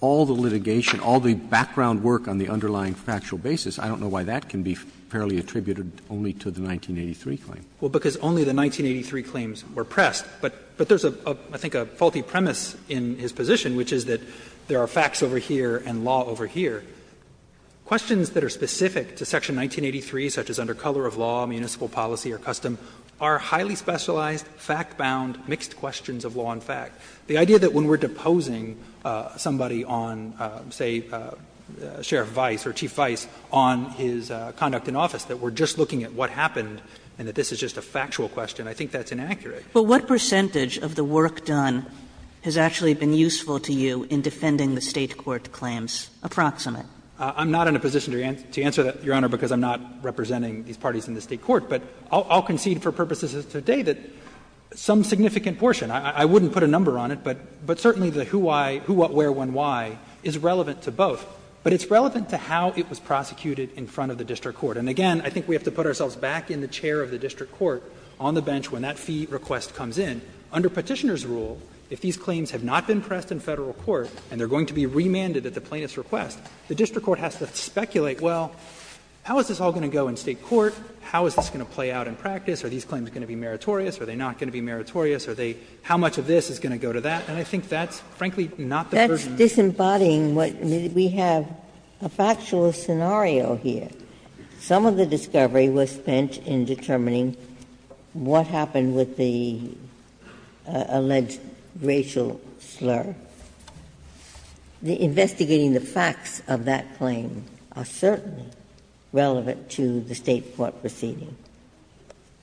all the litigation, all the background work on the underlying factual basis, I don't know why that can be fairly attributed only to the 1983 claim. Well, because only the 1983 claims were pressed. But there's, I think, a faulty premise in his position, which is that there are facts over here and law over here. Questions that are specific to section 1983, such as under color of law, municipal policy or custom, are highly specialized, fact-bound, mixed questions of law and fact. The idea that when we're deposing somebody on, say, Sheriff Vice or Chief Vice on his conduct in office, that we're just looking at what happened and that this is just a factual question, I think that's inaccurate. But what percentage of the work done has actually been useful to you in defending the State court claims, approximate? I'm not in a position to answer that, Your Honor, because I'm not representing these parties in the State court. But I'll concede for purposes of today that some significant portion, I wouldn't put a number on it, but certainly the who, why, who, what, where, when, why, is relevant to both. But it's relevant to how it was prosecuted in front of the district court. And again, I think we have to put ourselves back in the chair of the district court on the bench when that fee request comes in. Under Petitioner's rule, if these claims have not been pressed in Federal court and they're going to be remanded at the plaintiff's request, the district court has to speculate, well, how is this all going to go in State court, how is this going to play out in practice, are these claims going to be meritorious, are they not going to be meritorious, are they how much of this is going to go to that, and I think that's frankly not the version that's used. Ginsburg. That's disembodying what we have, a factual scenario here. Some of the discovery was spent in determining what happened with the alleged racial slur. Investigating the facts of that claim are certainly relevant to the State court proceeding.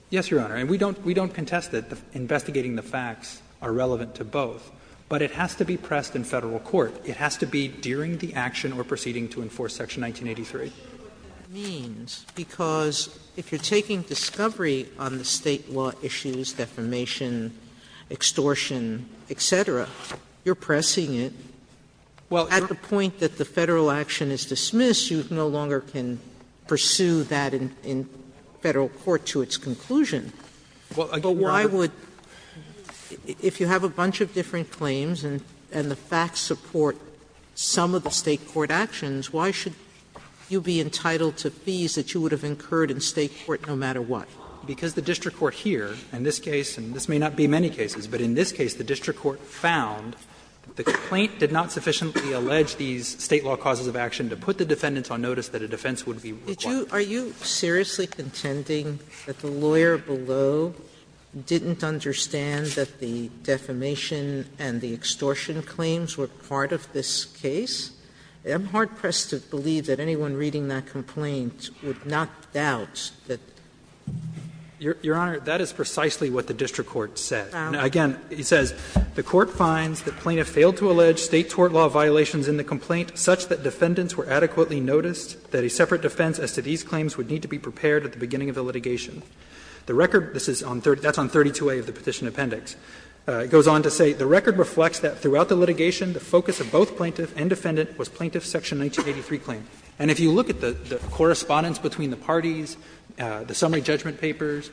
Yes, Your Honor. And we don't contest that investigating the facts are relevant to both. But it has to be pressed in Federal court. It has to be during the action or proceeding to enforce Section 1983. Sotomayor, what that means, because if you're taking discovery on the State law issues, defamation, extortion, et cetera, you're pressing it at the point that the Federal action is dismissed, you no longer can pursue that in Federal court to its conclusion. Why would, if you have a bunch of different claims and the facts support some of the State court actions, why should you be entitled to fees that you would have incurred in State court no matter what? Because the district court here, in this case, and this may not be many cases, but in this case the district court found that the complaint did not sufficiently allege these State law causes of action to put the defendants on notice that a defense would be required. Sotomayor, are you seriously contending that the lawyer below didn't understand that the defamation and the extortion claims were part of this case? I'm hard pressed to believe that anyone reading that complaint would not doubt that the district court found. Miller, that is precisely what the district court said. Again, it says, the court finds that plaintiff failed to allege State tort law violations in the complaint such that defendants were adequately noticed that a separate defense as to these claims would need to be prepared at the beginning of the litigation. The record, this is on 32a of the Petition Appendix, goes on to say the record reflects that throughout the litigation, the focus of both plaintiff and defendant was plaintiff's section 1983 claim. And if you look at the correspondence between the parties, the summary judgment papers,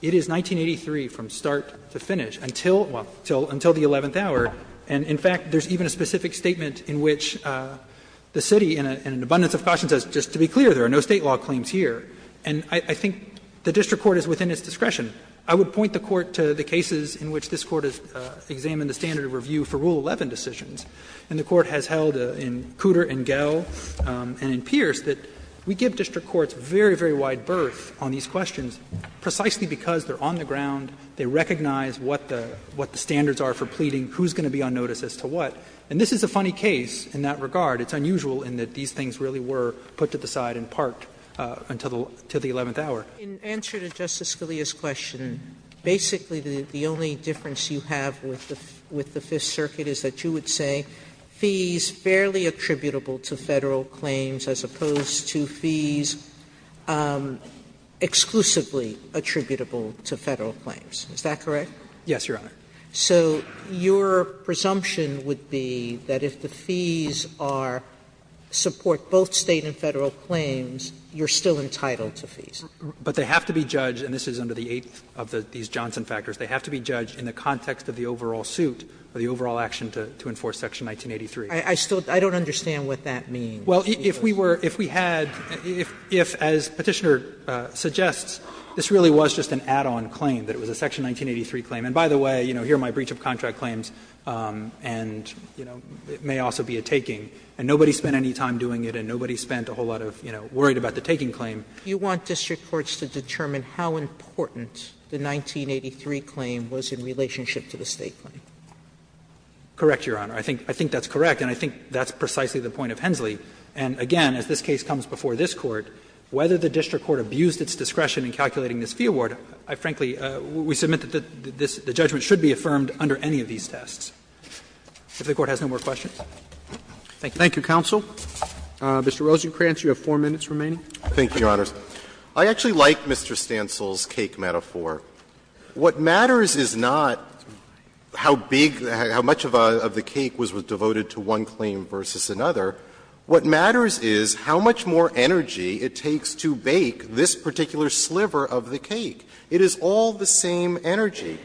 it is 1983 from start to finish until the eleventh hour. And in fact, there is even a specific statement in which the city, in an abundance of caution, says just to be clear, there are no State law claims here. And I think the district court is within its discretion. I would point the Court to the cases in which this Court has examined the standard of review for Rule 11 decisions. And the Court has held in Cooter and Gell and in Pierce that we give district courts very, very wide berth on these questions precisely because they are on the ground, they recognize what the standards are for pleading, who is going to be on notice as to what. And this is a funny case in that regard. It's unusual in that these things really were put to the side and parked until the eleventh hour. Sotomayor, in answer to Justice Scalia's question, basically the only difference you have with the Fifth Circuit is that you would say fees fairly attributable to Federal claims as opposed to fees exclusively attributable to Federal claims. Is that correct? Yes, Your Honor. So your presumption would be that if the fees are to support both State and Federal claims, you are still entitled to fees? But they have to be judged, and this is under the eighth of these Johnson factors, they have to be judged in the context of the overall suit or the overall action to enforce section 1983. I still don't understand what that means. Well, if we were, if we had, if as Petitioner suggests, this really was just an add-on claim, that it was a section 1983 claim. And by the way, you know, here are my breach of contract claims and, you know, it may also be a taking. And nobody spent any time doing it and nobody spent a whole lot of, you know, worried about the taking claim. Sotomayor, you want district courts to determine how important the 1983 claim was in relationship to the State claim? Correct, Your Honor. I think that's correct, and I think that's precisely the point of Hensley. And again, as this case comes before this Court, whether the district court abused its discretion in calculating this fee award, I frankly, we submit that the judgment should be affirmed under any of these tests. If the Court has no more questions. Thank you. Thank you, counsel. Mr. Rosenkranz, you have 4 minutes remaining. Thank you, Your Honors. I actually like Mr. Stansel's cake metaphor. What matters is not how big, how much of the cake was devoted to one claim versus another. What matters is how much more energy it takes to bake this particular sliver of the cake. It is all the same energy.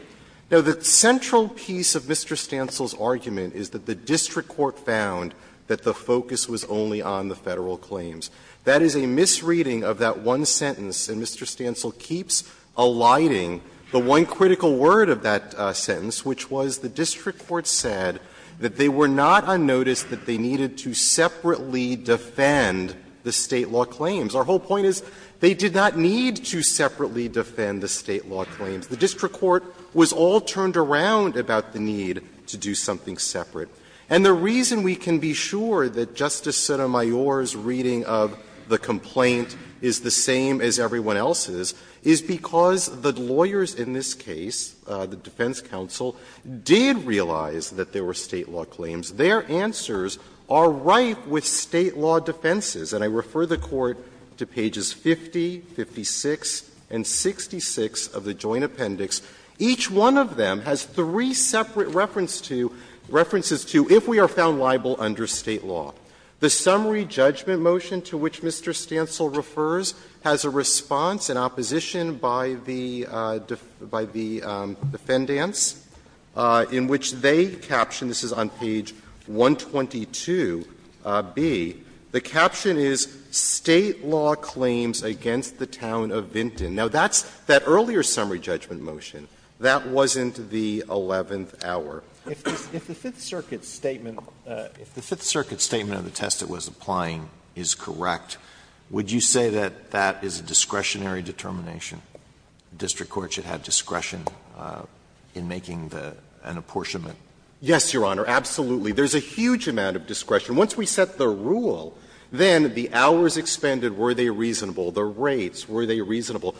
Now, the central piece of Mr. Stansel's argument is that the district court found that the focus was only on the Federal claims. That is a misreading of that one sentence, and Mr. Stansel keeps alighting the one critical word of that sentence, which was the district court said that they were not unnoticed, that they needed to separately defend the State law claims. Our whole point is they did not need to separately defend the State law claims. The district court was all turned around about the need to do something separate. And the reason we can be sure that Justice Sotomayor's reading of the complaint is the same as everyone else's is because the lawyers in this case, the defense counsel, did realize that there were State law claims. Their answers are right with State law defenses, and I refer the Court to pages 50, 56, and 66 of the Joint Appendix. Each one of them has three separate reference to, references to, if we are found liable under State law. The summary judgment motion to which Mr. Stansel refers has a response in opposition by the, by the defendants, in which they captioned, this is on page 122B, the caption is, State law claims against the town of Vinton. Now, that's, that earlier summary judgment motion, that wasn't the eleventh Alito, if the Fifth Circuit's statement, if the Fifth Circuit's statement of the test it was applying is correct, would you say that that is a discretionary determination? The district court should have discretion in making the, an apportionment. Yes, Your Honor, absolutely. There's a huge amount of discretion. Once we set the rule, then the hours expended, were they reasonable? The rates, were they reasonable?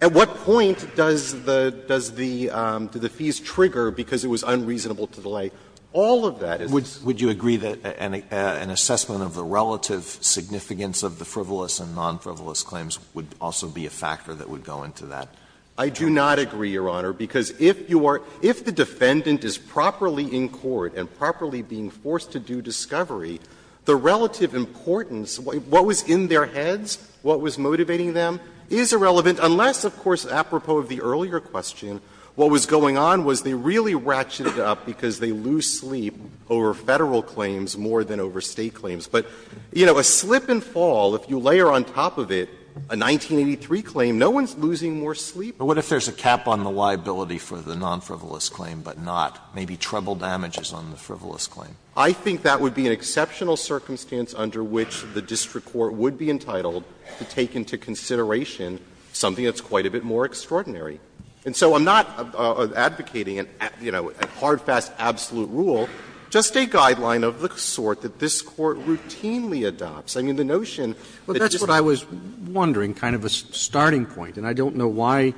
At what point does the, does the, do the fees trigger because it was unreasonable to delay? All of that is. Would you agree that an assessment of the relative significance of the frivolous and non-frivolous claims would also be a factor that would go into that? I do not agree, Your Honor, because if you are, if the defendant is properly in court and properly being forced to do discovery, the relative importance, what was in their heads, what was motivating them, is irrelevant, unless, of course, apropos of the earlier question, what was going on was they really ratcheted up because they lose sleep over Federal claims more than over State claims. But, you know, a slip and fall, if you layer on top of it a 1983 claim, no one's losing more sleep. But what if there's a cap on the liability for the non-frivolous claim but not, maybe treble damages on the frivolous claim? I think that would be an exceptional circumstance under which the district court would be entitled to take into consideration something that's quite a bit more extraordinary. And so I'm not advocating, you know, a hard, fast, absolute rule, just a guideline of the sort that this Court routinely adopts. I mean, the notion that just the case of the non-frivolous claims is a non-frivolous claim. Roberts. But that's what I was wondering, kind of a starting point, and I don't know why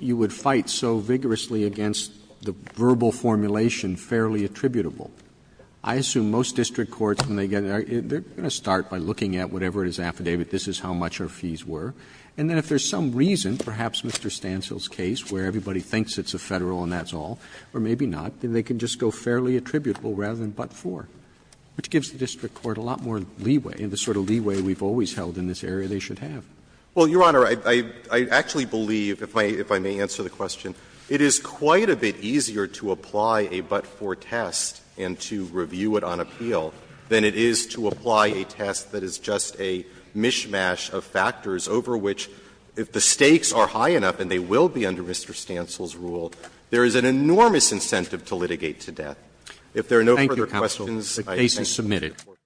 you would fight so vigorously against the verbal formulation, fairly attributable. I assume most district courts, when they get in, they're going to start by looking at whatever is affidavit, this is how much our fees were. And then if there's some reason, perhaps Mr. Stancil's case, where everybody thinks it's a Federal and that's all, or maybe not, then they can just go fairly attributable rather than but for, which gives the district court a lot more leeway, the sort of leeway we've always held in this area they should have. Well, Your Honor, I actually believe, if I may answer the question, it is quite a bit easier to apply a but-for test and to review it on appeal than it is to apply a test that is just a mishmash of factors over which, if the stakes are high enough and they will be under Mr. Stancil's rule, there is an enormous incentive to litigate to death. If there are no further questions, I thank you for your report. Roberts.